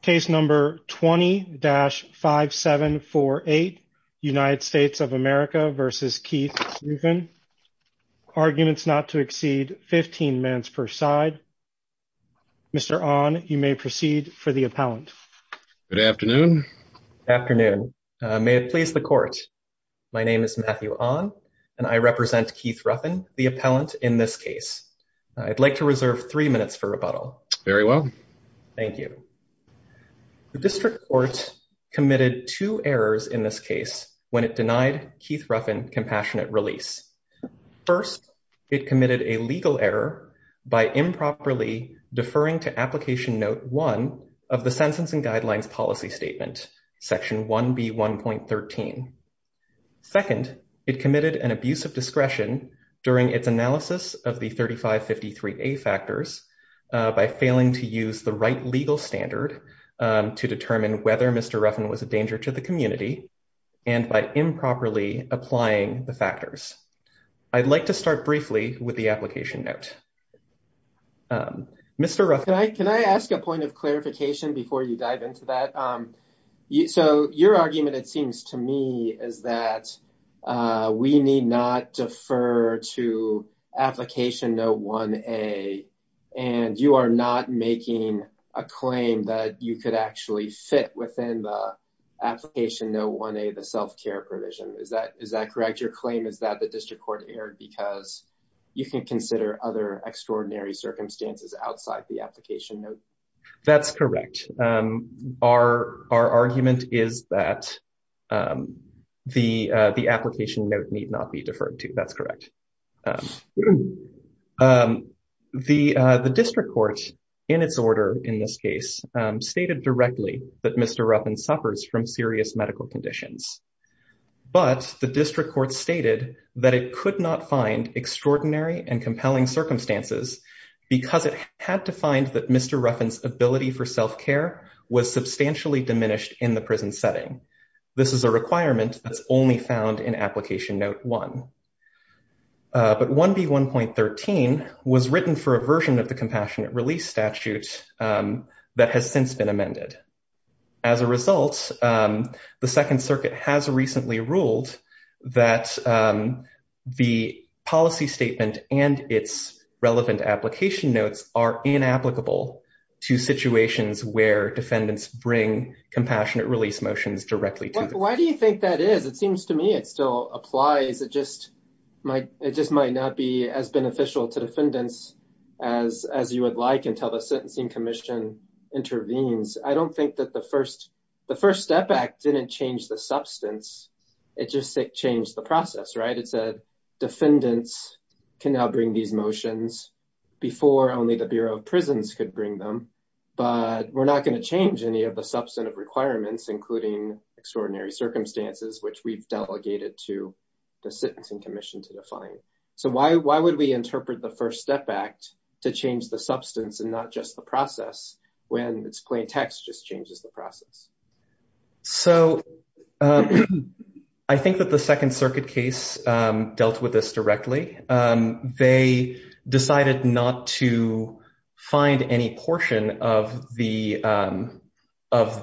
Case number 20-5748 United States of America v. Keith Ruffin Arguments not to exceed 15 minutes per side. Mr. Ahn, you may proceed for the appellant. Good afternoon. Good afternoon. May it please the court. My name is Matthew Ahn and I represent Keith Ruffin, the appellant in this case. I'd like to reserve three minutes for rebuttal. Very well. Thank you. The district court committed two errors in this case when it denied Keith Ruffin compassionate release. First, it committed a legal error by improperly deferring to application note one of the Sentencing Guidelines Policy Statement, section 1B1.13. Second, it committed an abuse of discretion during its analysis of the 3553A factors by failing to use the right legal standard to determine whether Mr. Ruffin was a danger to the community and by improperly applying the factors. I'd like to start briefly with the application note. Mr. Ruffin. Can I ask a point of clarification before you dive into that? So your argument, it seems to me, is that we need not defer to application note 1A and you are not making a claim that you could actually fit within the application note 1A, the self-care provision. Is that correct? Your claim is that the district court erred because you can consider other argument is that the application note need not be deferred to. That's correct. The district court, in its order in this case, stated directly that Mr. Ruffin suffers from serious medical conditions. But the district court stated that it could not find extraordinary and compelling circumstances because it had to find that Mr. Ruffin's ability for self-care was substantially diminished in the prison setting. This is a requirement that's only found in application note 1. But 1B.1.13 was written for a version of the compassionate release statute that has since been amended. As a result, the Second Circuit has recently ruled that the policy statement and its relevant application notes are inapplicable to situations where defendants bring compassionate release motions directly. Why do you think that is? It seems to me it still applies. It just might not be as beneficial to defendants as you would like until the Sentencing Commission intervenes. I don't think that the First Step Act didn't change the substance. It just changed the process, right? It said defendants can now bring these motions before only the Bureau of Prisons could bring them. But we're not going to change any of the substantive requirements, including extraordinary circumstances, which we've delegated to the Sentencing Commission to define. So why would we interpret the First Step Act to change the substance and not just the process when its plain text just changes the process? So I think that the not to find any portion of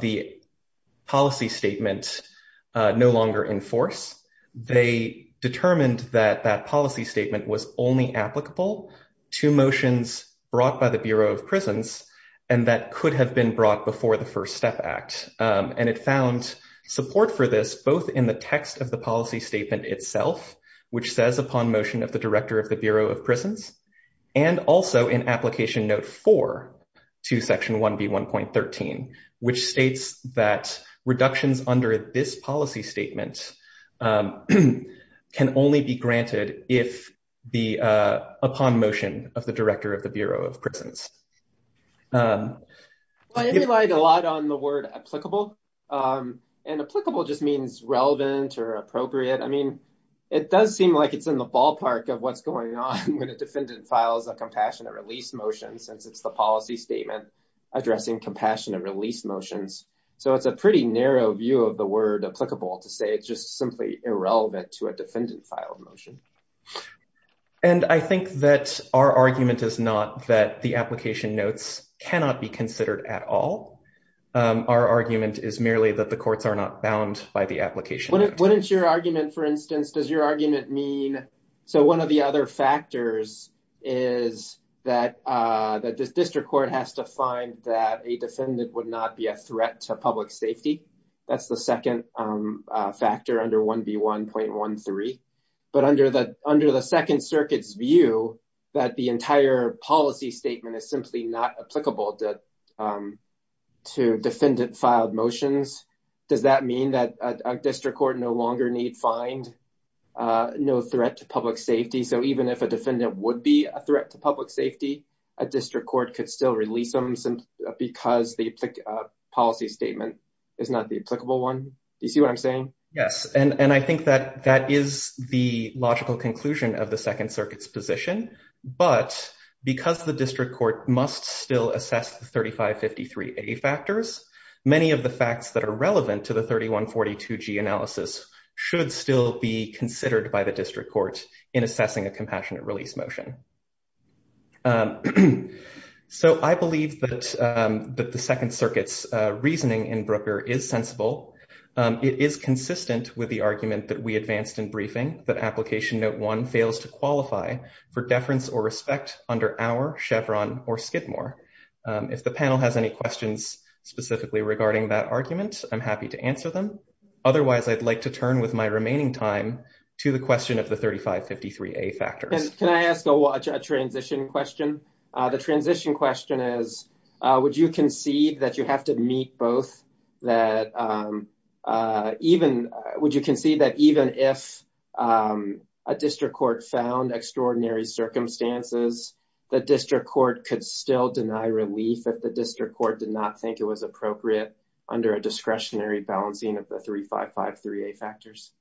the policy statement no longer in force. They determined that that policy statement was only applicable to motions brought by the Bureau of Prisons and that could have been brought before the First Step Act. And it found support for this both in the text of the and also in Application Note 4 to Section 1B1.13, which states that reductions under this policy statement can only be granted upon motion of the Director of the Bureau of Prisons. Well, I relied a lot on the word applicable. And applicable just means relevant or appropriate. I And I think that our argument is not that the application notes cannot be considered at all. Our argument is merely that the courts are not bound by the application. Wouldn't your argument, for instance, does your argument mean? So one of the other factors is that that this district court has to find that a defendant would not be a threat to public safety. That's the second factor under 1B1.13. But under the Second Circuit's view, that the entire policy statement is simply not applicable to defendant filed motions. Does that mean that a district court no longer need find no threat to public safety? So even if a defendant would be a threat to public safety, a district court could still release them because the policy statement is not the applicable one. Do you see what I'm saying? Yes. And I think that that is the logical conclusion of the Second Circuit's position. But because the district court must still assess the 3553A factors, many of the facts that are relevant to the 3142G analysis should still be considered by the district court in assessing a compassionate release motion. So I believe that the Second Circuit's reasoning in Brooker is sensible. It is consistent with the argument that we advanced in briefing that application note one fails to qualify for deference or respect under our Chevron or Skidmore. If the panel has any questions specifically regarding that argument, I'm happy to answer them. Otherwise, I'd like to turn with my remaining time to the question of the 3553A factors. Can I ask a transition question? The transition question is, would you concede that you have to meet both? Would you concede that even if a district court found extraordinary circumstances, the district court could still deny relief if the district court did not think it was appropriate under a discretionary balancing of the 3553A factors?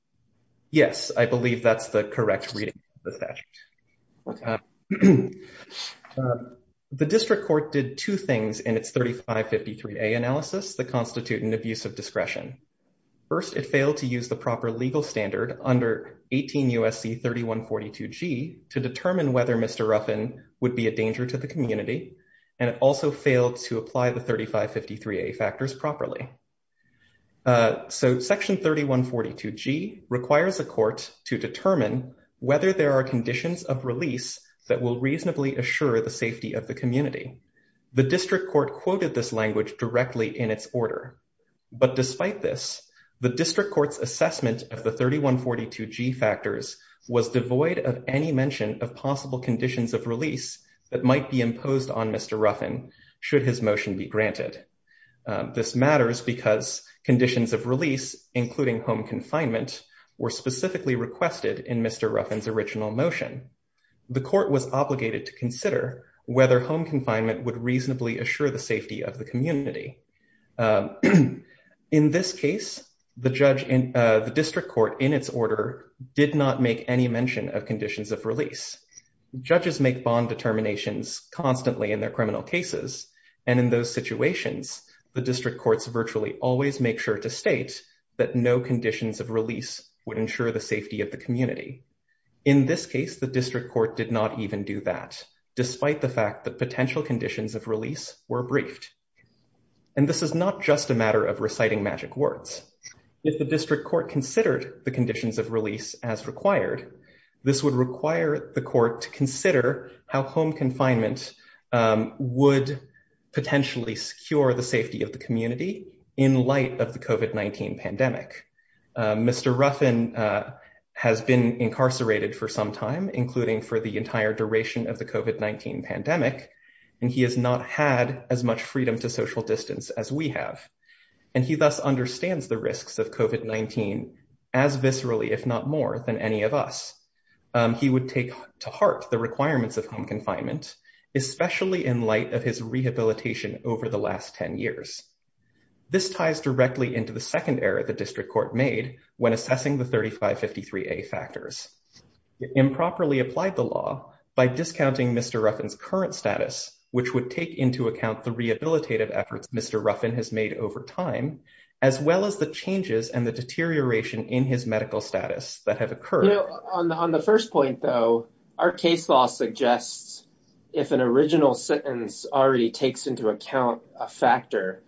Yes, I believe that's the correct reading of the statute. The district court did two things in its 3553A analysis that constitute an abuse of discretion. First, it failed to use the proper legal standard under 18 USC 3142G to determine whether Mr. Ruffin would be a danger to the community. And it also failed to apply the 3553A factors properly. So section 3142G requires a court to determine whether there are conditions of release that will reasonably assure the safety of the community. The district court quoted this language directly in its order. But despite this, the district court's assessment of the that might be imposed on Mr. Ruffin should his motion be granted. This matters because conditions of release, including home confinement, were specifically requested in Mr. Ruffin's original motion. The court was obligated to consider whether home confinement would reasonably assure the safety of the community. In this case, the district court in its order did not make any mention of conditions of release. Judges make bond determinations constantly in their criminal cases. And in those situations, the district courts virtually always make sure to state that no conditions of release would ensure the safety of the community. In this case, the district court did not even do that, despite the fact that potential conditions of release were briefed. And this is not just a matter of reciting magic words. If the district court considered the conditions of release as required, this would require the court to consider how home confinement would potentially secure the safety of the community in light of the COVID-19 pandemic. Mr. Ruffin has been incarcerated for some time, including for the entire duration of the COVID-19 pandemic. And he has not had as much freedom to social distance as we have. And he thus understands the risks of COVID-19 as viscerally, if not more than any of us. He would take to heart the requirements of home confinement, especially in light of his rehabilitation over the last 10 years. This ties directly into the second error the district court made when assessing the 3553A factors. It improperly applied the law by discounting Mr. Ruffin's current which would take into account the rehabilitative efforts Mr. Ruffin has made over time, as well as the changes and the deterioration in his medical status that have occurred. You know, on the first point, though, our case law suggests if an original sentence already takes into account a factor,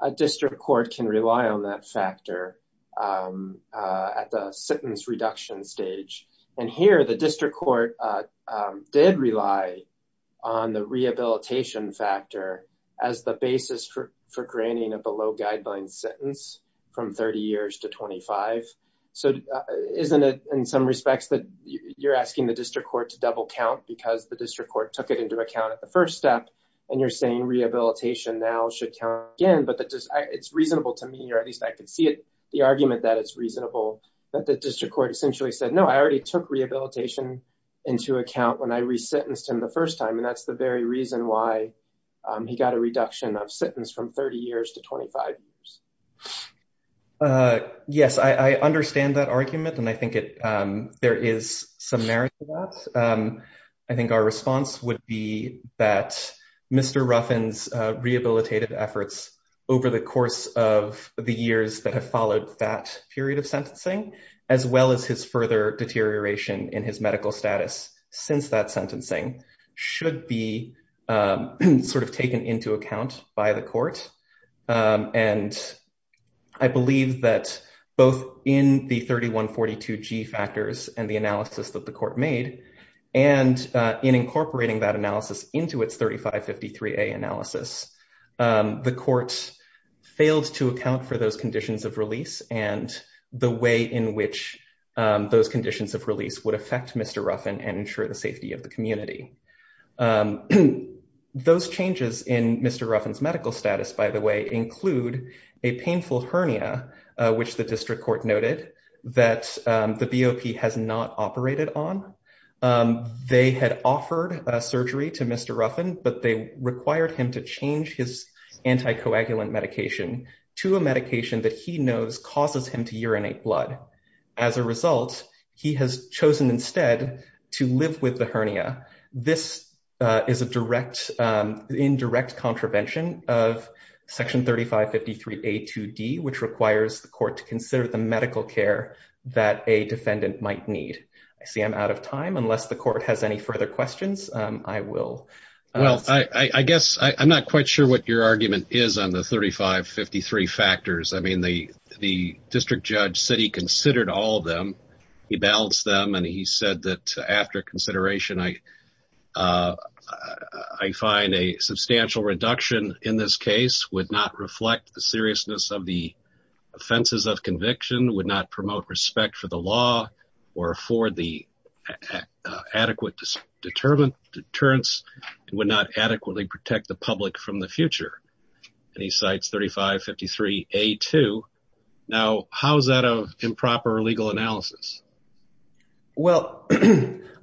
a district court can rely on that factor at the sentence reduction stage. And here, the district court did rely on the rehabilitation factor as the basis for granting a below-guideline sentence from 30 years to 25. So isn't it in some respects that you're asking the district court to double count because the district court took it into account at the first step, and you're saying rehabilitation now should count again, it's reasonable to me, or at least I can see it, the argument that it's reasonable, that the district court essentially said, no, I already took rehabilitation into account when I resentenced him the first time, and that's the very reason why he got a reduction of sentence from 30 years to 25 years. Yes, I understand that argument, and I think there is some merit to that. I think our response would be that Mr. Ruffin's rehabilitative efforts over the course of the years that have followed that period of sentencing, as well as his further deterioration in his medical status since that sentencing, should be sort of taken into account by the court. And I believe that both in the 3142G factors and the analysis that the court made, and in incorporating that analysis into its 3553A analysis, the court failed to account for those conditions of release and the way in which those conditions of release would affect Mr. Ruffin and ensure the safety of the community. Those changes in Mr. Ruffin's medical status, by the way, include a painful hernia, which the district court noted that the BOP has not operated on. They had offered a surgery to Mr. Ruffin, but they required him to change his anticoagulant medication to a medication that he knows causes him to urinate blood. As a result, he has chosen instead to live with the requires the court to consider the medical care that a defendant might need. I see I'm out of time. Unless the court has any further questions, I will. Well, I guess I'm not quite sure what your argument is on the 3553 factors. I mean, the district judge said he considered all of them. He balanced them, and he said that after consideration, I find a substantial reduction in this case would not reflect the seriousness of the offenses of conviction, would not promote respect for the law or afford the adequate deterrents, and would not adequately protect the public from the future. And he cites 3553A2. Now, how is that an improper legal analysis? Well,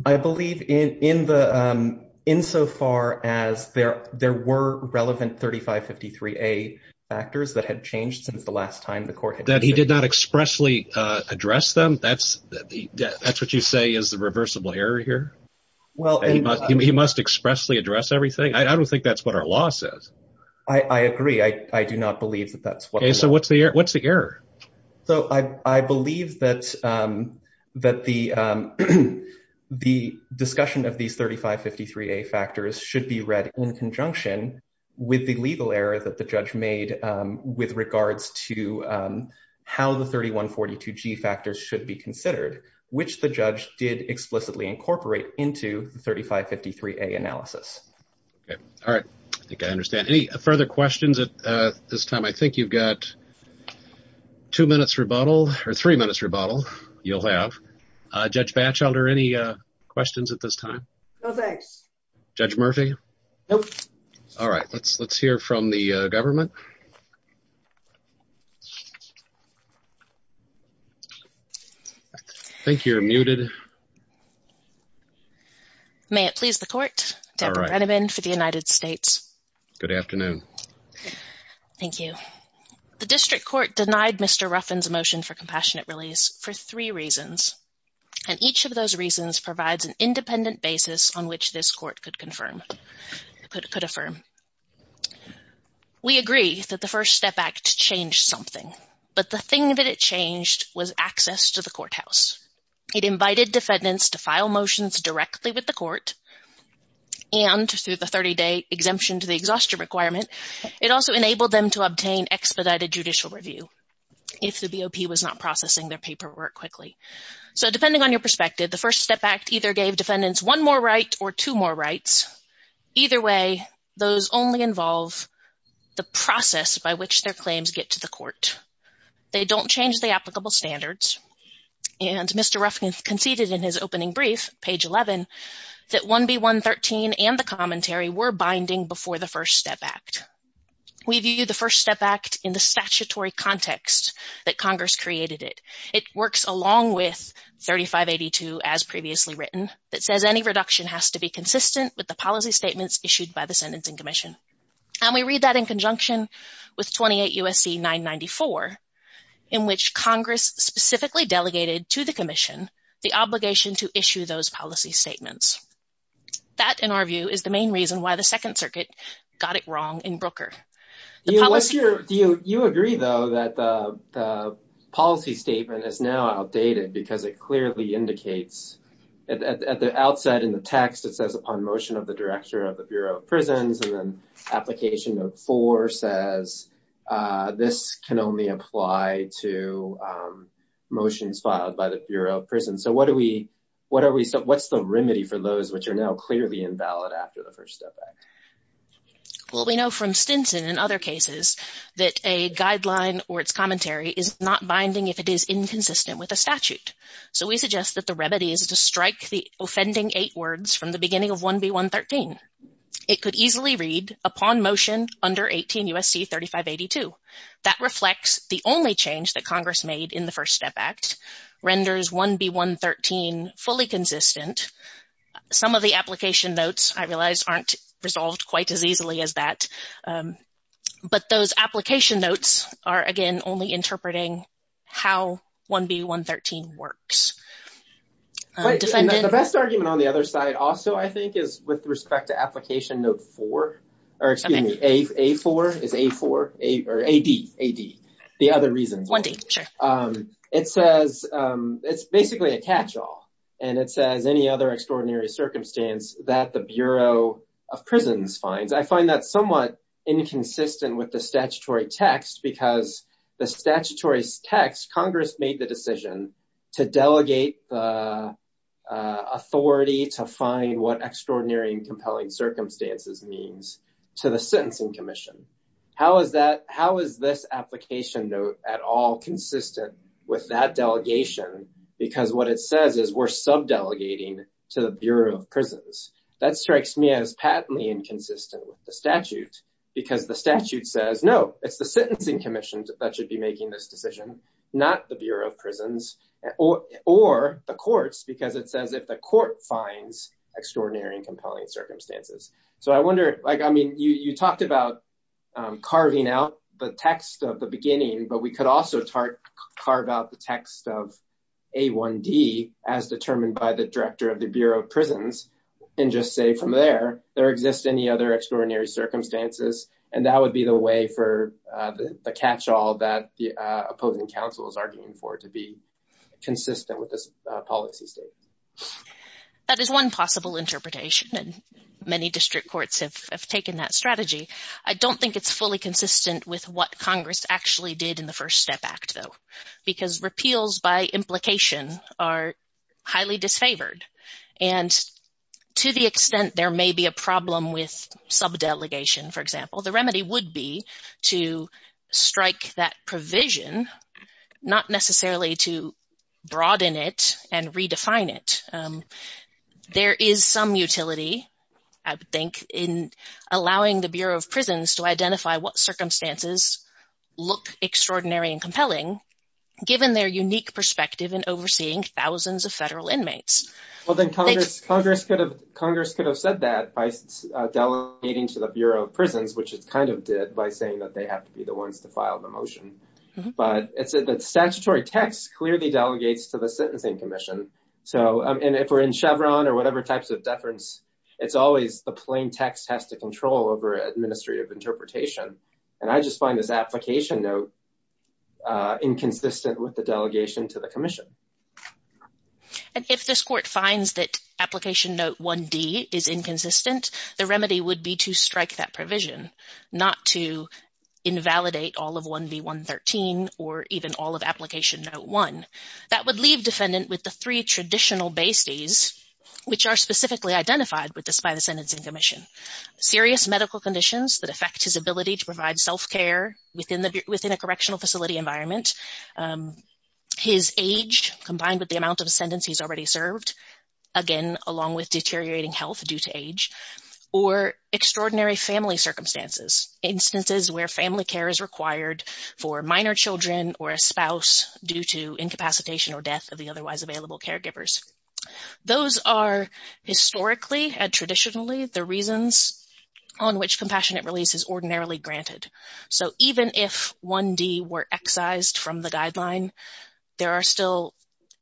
I believe in so far as there were relevant 3553A factors that had changed since the last time the court had... That he did not expressly address them? That's what you say is the reversible error here? He must expressly address everything? I don't think that's what our law says. I agree. I do not believe that that's what... Okay, so what's the error? So I believe that the discussion of these 3553A factors should be read in conjunction with the legal error that the judge made with regards to how the 3142G factors should be considered, which the judge did explicitly incorporate into the 3553A analysis. Okay. All right. I think I understand. Any further questions at this time? I think you've got... Two minutes rebuttal, or three minutes rebuttal, you'll have. Judge Batchelder, any questions at this time? No, thanks. Judge Murphy? Nope. All right. Let's hear from the government. I think you're muted. May it please the court, Deborah Brenneman for the United States. Good afternoon. Thank you. The district court denied Mr. Ruffin's motion for compassionate release for three reasons, and each of those reasons provides an independent basis on which this court could affirm. We agree that the First Step Act changed something, but the thing that it changed was access to the courthouse. It invited defendants to file motions directly with the court, and through the 30-day exemption to the court, it also enabled them to obtain expedited judicial review if the BOP was not processing their paperwork quickly. So depending on your perspective, the First Step Act either gave defendants one more right or two more rights. Either way, those only involve the process by which their claims get to the court. They don't change the applicable standards, and Mr. Ruffin conceded in his opening brief, page 11, that 1B113 and the We view the First Step Act in the statutory context that Congress created it. It works along with 3582, as previously written, that says any reduction has to be consistent with the policy statements issued by the Sentencing Commission. And we read that in conjunction with 28 U.S.C. 994, in which Congress specifically delegated to the Commission the obligation to issue those policy statements. That, in our view, is the main reason why the Second Circuit got it wrong in Brooker. You agree, though, that the policy statement is now outdated because it clearly indicates at the outset in the text, it says, upon motion of the Director of the Bureau of Prisons, and then Application Note 4 says this can only apply to motions filed by the Bureau of Prisons. So what are we, what's the remedy for those which are now clearly invalid after the First Step Act? Well, we know from Stinson and other cases that a guideline or its commentary is not binding if it is inconsistent with a statute. So we suggest that the remedy is to strike the offending eight words from the beginning of 1B113. It could easily read, upon motion under 18 U.S.C. 3582. That reflects the only change that Congress made in the First Step Act, renders 1B113 fully consistent. Some of the application notes, I realize, aren't resolved quite as easily as that. But those application notes are, again, only interpreting how 1B113 works. The best argument on the other side also, I think, is with respect to Application Note 4, or excuse me, A4, is A4, or AD, the other reason. It says, it's basically a catch-all, and it says any other extraordinary circumstance that the Bureau of Prisons finds. I find that somewhat inconsistent with the statutory text because the statutory text, Congress made the decision to delegate the authority to find what extraordinary and compelling circumstances means to the Sentencing Commission. How is that, how is this application note at all consistent with that delegation? Because what it says is we're sub-delegating to the Bureau of Prisons. That strikes me as patently inconsistent with the statute because the statute says, no, it's the Sentencing Commission that should be making this decision, not the Bureau of Prisons, or the courts, because it says if the court finds extraordinary and compelling circumstances. So I wonder, like, I mean, you talked about carving out the text of the beginning, but we could also carve out the text of A1D as determined by the director of the Bureau of Prisons and just say from there, there exists any other extraordinary circumstances, and that would be the way for the catch-all that the opposing counsel is arguing for to be consistent with this policy That is one possible interpretation, and many district courts have taken that strategy. I don't think it's fully consistent with what Congress actually did in the First Step Act, though, because repeals by implication are highly disfavored, and to the extent there may be a problem with sub-delegation, for example, the remedy would be to strike that provision, not necessarily to broaden it and redefine it. There is some utility, I think, in allowing the Bureau of Prisons to identify what circumstances look extraordinary and compelling, given their unique perspective in overseeing thousands of federal inmates. Well, then Congress could have said that by delegating to the Bureau of Prisons, which it kind of did by saying that they have to be the ones to file the motion, but it said that statutory text clearly delegates to the sentencing commission, so if we're in Chevron or whatever types of deference, it's always the plain text has to control over administrative interpretation, and I just find this application note inconsistent with the delegation to the commission. And if this court finds that application note 1D is inconsistent, the remedy would be to strike that provision, not to invalidate all of 1B113 or even all of application note 1. That would leave defendant with the three traditional besties, which are specifically identified with this by the sentencing commission. Serious medical conditions that affect his ability to provide self-care within the within a correctional facility environment, his age combined with the amount of sentence he's already served, again, along with deteriorating health due to age, or extraordinary family circumstances, instances where family care is required for minor children or a spouse due to incapacitation or death of the otherwise available caregivers. Those are historically and traditionally the reasons on which compassionate release is ordinarily granted. So even if 1D were excised from the guideline, there are still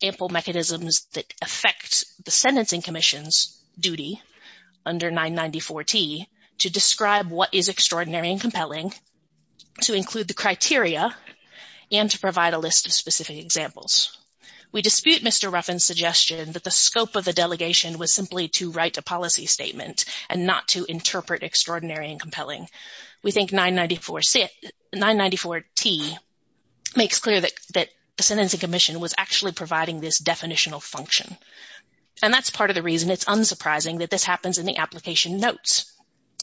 ample mechanisms that affect the sentencing commission's duty under 994T to describe what is extraordinary and compelling, to include the criteria, and to provide a list of specific examples. We dispute Mr. Ruffin's suggestion that the scope of the delegation was simply to write a policy statement and not to interpret extraordinary and compelling. We think 994T makes clear that the sentencing commission was actually providing this definitional function, and that's part of the reason it's unsurprising that this happens in the application notes,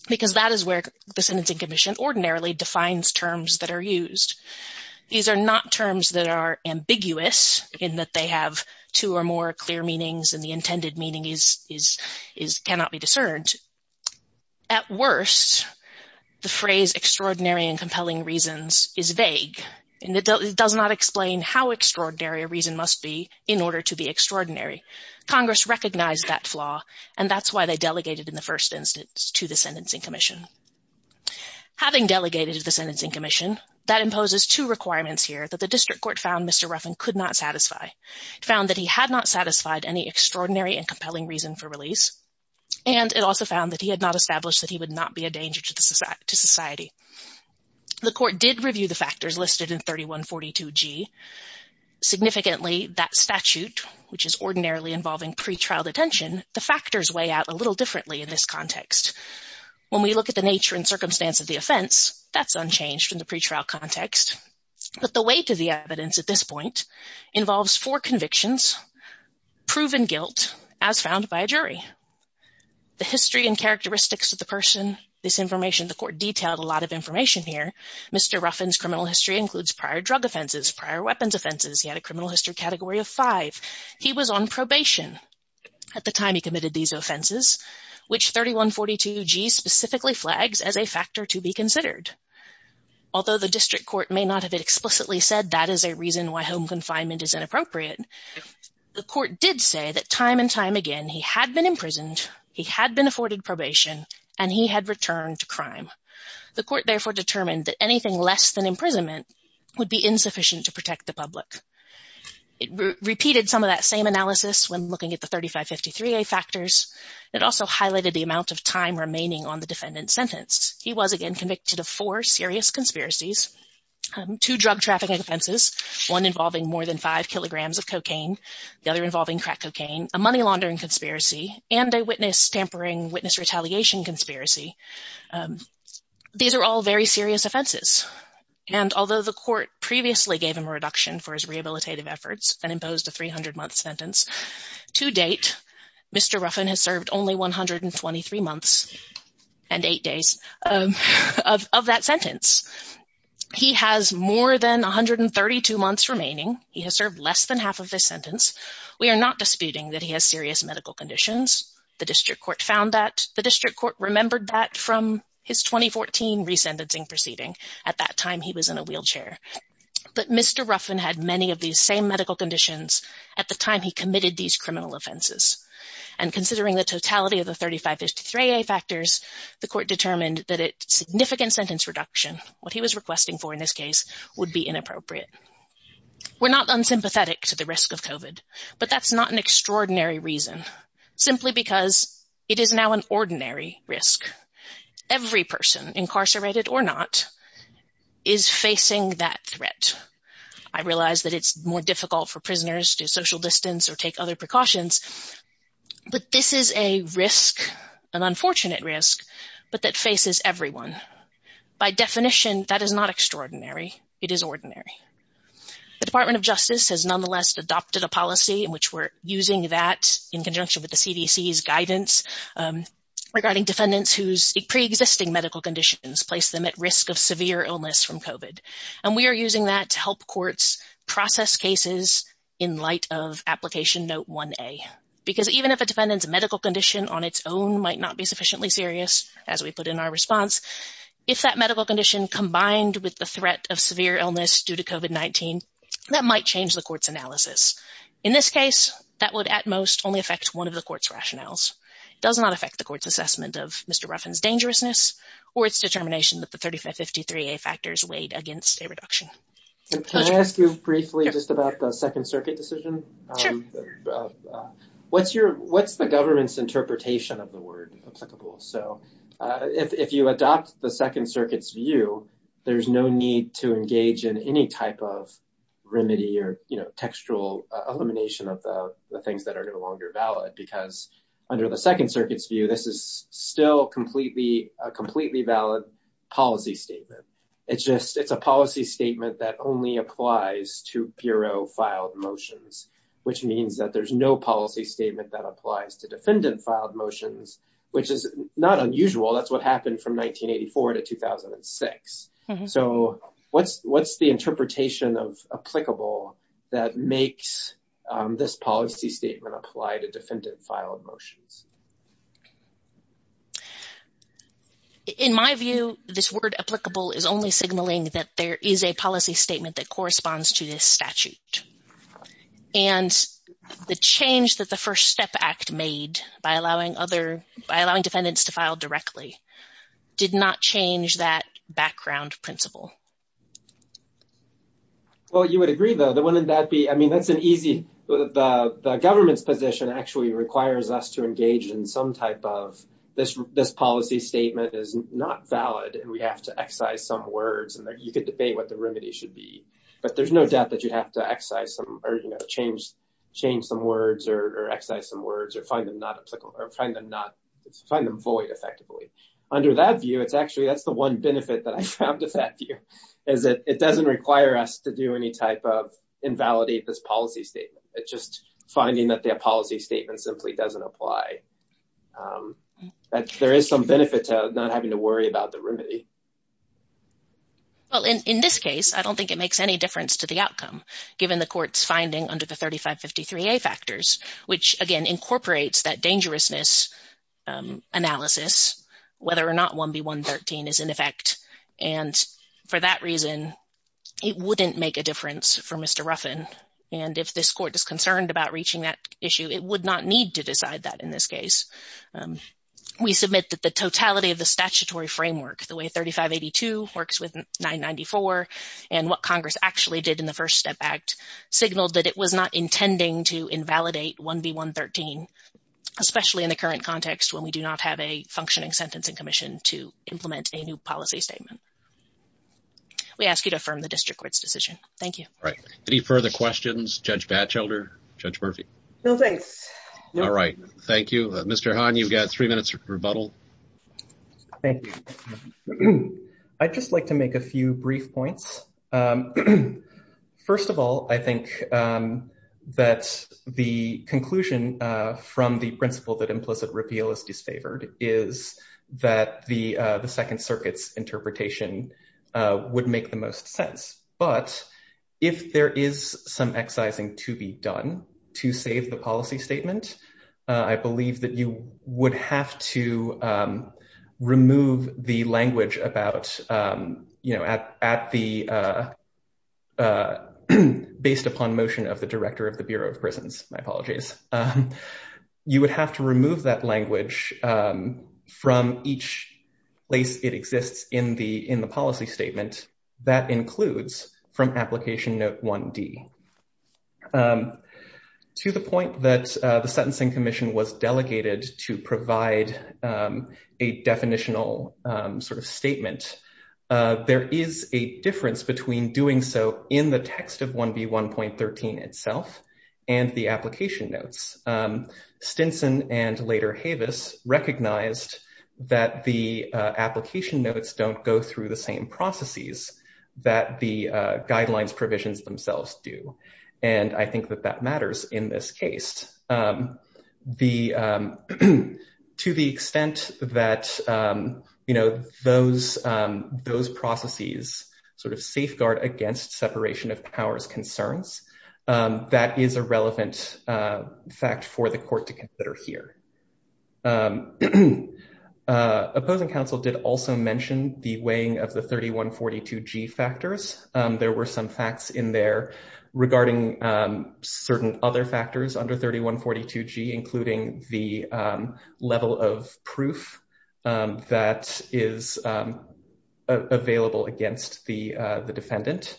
because that is where the sentencing commission ordinarily defines terms that are used. These are not terms that are ambiguous, in that they have two or more clear meanings, and the intended meaning cannot be discerned. At worst, the phrase extraordinary and compelling reasons is vague, and it does not explain how extraordinary a reason must be in order to be extraordinary. Congress recognized that flaw, and that's why they delegated in the first instance to the sentencing commission. Having delegated to the sentencing commission, that imposes two requirements here that the district court found Mr. Ruffin could not satisfy. It found that he had not satisfied any extraordinary and compelling reason for release, and it also found that he had established that he would not be a danger to society. The court did review the factors listed in 3142G. Significantly, that statute, which is ordinarily involving pretrial detention, the factors weigh out a little differently in this context. When we look at the nature and circumstance of the offense, that's unchanged in the pretrial context, but the weight of the evidence at this involves four convictions, proven guilt, as found by a jury. The history and characteristics of the person, this information, the court detailed a lot of information here. Mr. Ruffin's criminal history includes prior drug offenses, prior weapons offenses. He had a criminal history category of five. He was on probation at the time he committed these offenses, which 3142G specifically flags as a factor to be considered. Although the district court may not have explicitly said that is a reason why home confinement is inappropriate, the court did say that time and time again he had been imprisoned, he had been afforded probation, and he had returned to crime. The court therefore determined that anything less than imprisonment would be insufficient to protect the public. It repeated some of that same analysis when looking at the 3553A factors. It also highlighted the amount of time remaining on the defendant's sentence. He was, again, convicted of four serious conspiracies, two drug trafficking offenses, one involving more than five kilograms of cocaine, the other involving crack cocaine, a money laundering conspiracy, and a witness tampering, witness retaliation conspiracy. These are all very serious offenses, and although the court previously gave him a reduction for his rehabilitative efforts and imposed a 300-month sentence, to date, Mr. Ruffin has served only 123 months and eight days of that sentence. He has more than 132 months remaining. He has served less than half of his sentence. We are not disputing that he has serious medical conditions. The district court found that. The district court remembered that from his 2014 re-sentencing proceeding. At that time, he was in a committed these criminal offenses, and considering the totality of the 3553A factors, the court determined that a significant sentence reduction, what he was requesting for in this case, would be inappropriate. We're not unsympathetic to the risk of COVID, but that's not an extraordinary reason, simply because it is now an ordinary risk. Every person, incarcerated or not, is facing that threat. I realize that it's more difficult for prisoners to social distance or take other precautions, but this is a risk, an unfortunate risk, but that faces everyone. By definition, that is not extraordinary. It is ordinary. The Department of Justice has nonetheless adopted a policy in which we're using that in conjunction with the CDC's guidance regarding defendants whose pre-existing medical conditions place them at risk of severe illness from COVID, and we are using that to help courts process cases in light of Application Note 1A, because even if a defendant's medical condition on its own might not be sufficiently serious, as we put in our response, if that medical condition combined with the threat of severe illness due to COVID-19, that might change the court's analysis. In this case, that would at one of the court's rationales. It does not affect the court's assessment of Mr. Ruffin's dangerousness or its determination that the 3553A factors weighed against a reduction. Can I ask you briefly just about the Second Circuit decision? What's the government's interpretation of the word applicable? If you adopt the Second Circuit's view, there's no need to engage in any type of remedy or textual elimination of the things that are no longer valid, because under the Second Circuit's view, this is still a completely valid policy statement. It's a policy statement that only applies to Bureau-filed motions, which means that there's no policy statement that applies to defendant-filed motions, which is not unusual. That's what happened from 1984 to 2006. What's the interpretation of the word applicable? In my view, this word applicable is only signaling that there is a policy statement that corresponds to this statute, and the change that the First Step Act made by allowing defendants to file directly did not change that background principle. Well, you would agree, though, that wouldn't that be, I mean, that's an easy, the government's position actually requires us to engage in some type of, this policy statement is not valid, and we have to excise some words, and you could debate what the remedy should be. But there's no doubt that you'd have to excise some, or, you know, change some words, or excise some words, or find them not applicable, or find them void effectively. Under that view, it's one benefit that I found with that view, is that it doesn't require us to do any type of invalidate this policy statement. It's just finding that the policy statement simply doesn't apply. There is some benefit to not having to worry about the remedy. Well, in this case, I don't think it makes any difference to the outcome, given the court's finding under the 3553A factors, which, again, incorporates that dangerousness analysis, whether or not 1B113 is in effect. And for that reason, it wouldn't make a difference for Mr. Ruffin. And if this court is concerned about reaching that issue, it would not need to decide that in this case. We submit that the totality of the statutory framework, the way 3582 works with 994, and what Congress actually did in the First Step Act, signaled that it was not have a functioning Sentencing Commission to implement a new policy statement. We ask you to affirm the district court's decision. Thank you. All right. Any further questions? Judge Batchelder? Judge Murphy? No, thanks. All right. Thank you. Mr. Hahn, you've got three minutes of rebuttal. Thank you. I'd just like to make a few brief points. First of all, I think that the conclusion from the principle that implicit repeal is disfavored is that the Second Circuit's interpretation would make the most sense. But if there is some excising to be done to save the policy statement, I believe that you would have to remove the language about, you know, at the—based upon motion of the Director of the Bureau of Prisons. My apologies. You would have to remove that language from each place it exists in the policy statement that includes from Application Note 1D. To the point that the Sentencing Commission was delegated to provide a definitional sort of statement, there is a difference between doing so in the text of 1B1.13 itself and the application notes. Stinson and later Havis recognized that the application notes don't go through the same processes that the guidelines provisions themselves do. And I think that that matters in this case. To the extent that, you know, those processes sort of safeguard against separation of powers concerns, that is a relevant fact for the court to consider here. Opposing counsel did also mention the regarding certain other factors under 3142G, including the level of proof that is available against the defendant.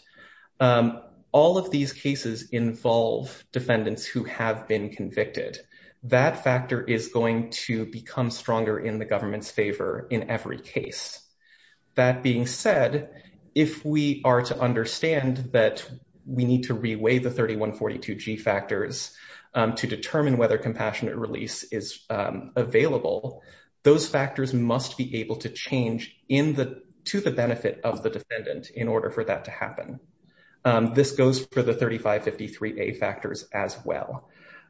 All of these cases involve defendants who have been convicted. That factor is going to become stronger in the government's favor in every case. That being said, if we are to understand that we need to reweigh the 3142G factors to determine whether compassionate release is available, those factors must be able to change to the benefit of the defendant in order for that to happen. This goes for the 3553A factors as well.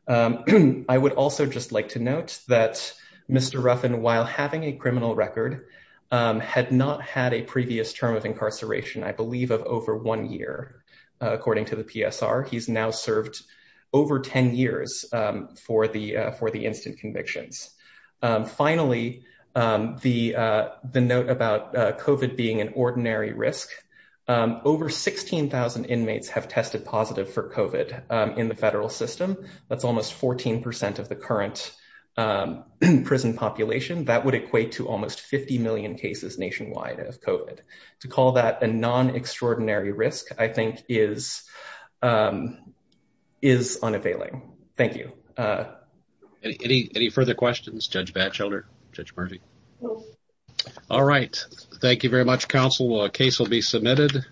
I would also just like note that Mr. Ruffin, while having a criminal record, had not had a previous term of incarceration, I believe of over one year, according to the PSR. He's now served over 10 years for the instant convictions. Finally, the note about COVID being an ordinary risk, over 16,000 inmates have tested positive for COVID in the federal system. That's almost 14% of the current prison population. That would equate to almost 50 million cases nationwide of COVID. To call that a non-extraordinary risk, I think, is unavailing. Thank you. Any further questions? Judge Batchelder? Judge Murphy? All right. Thank you very much, counsel. A case will be submitted.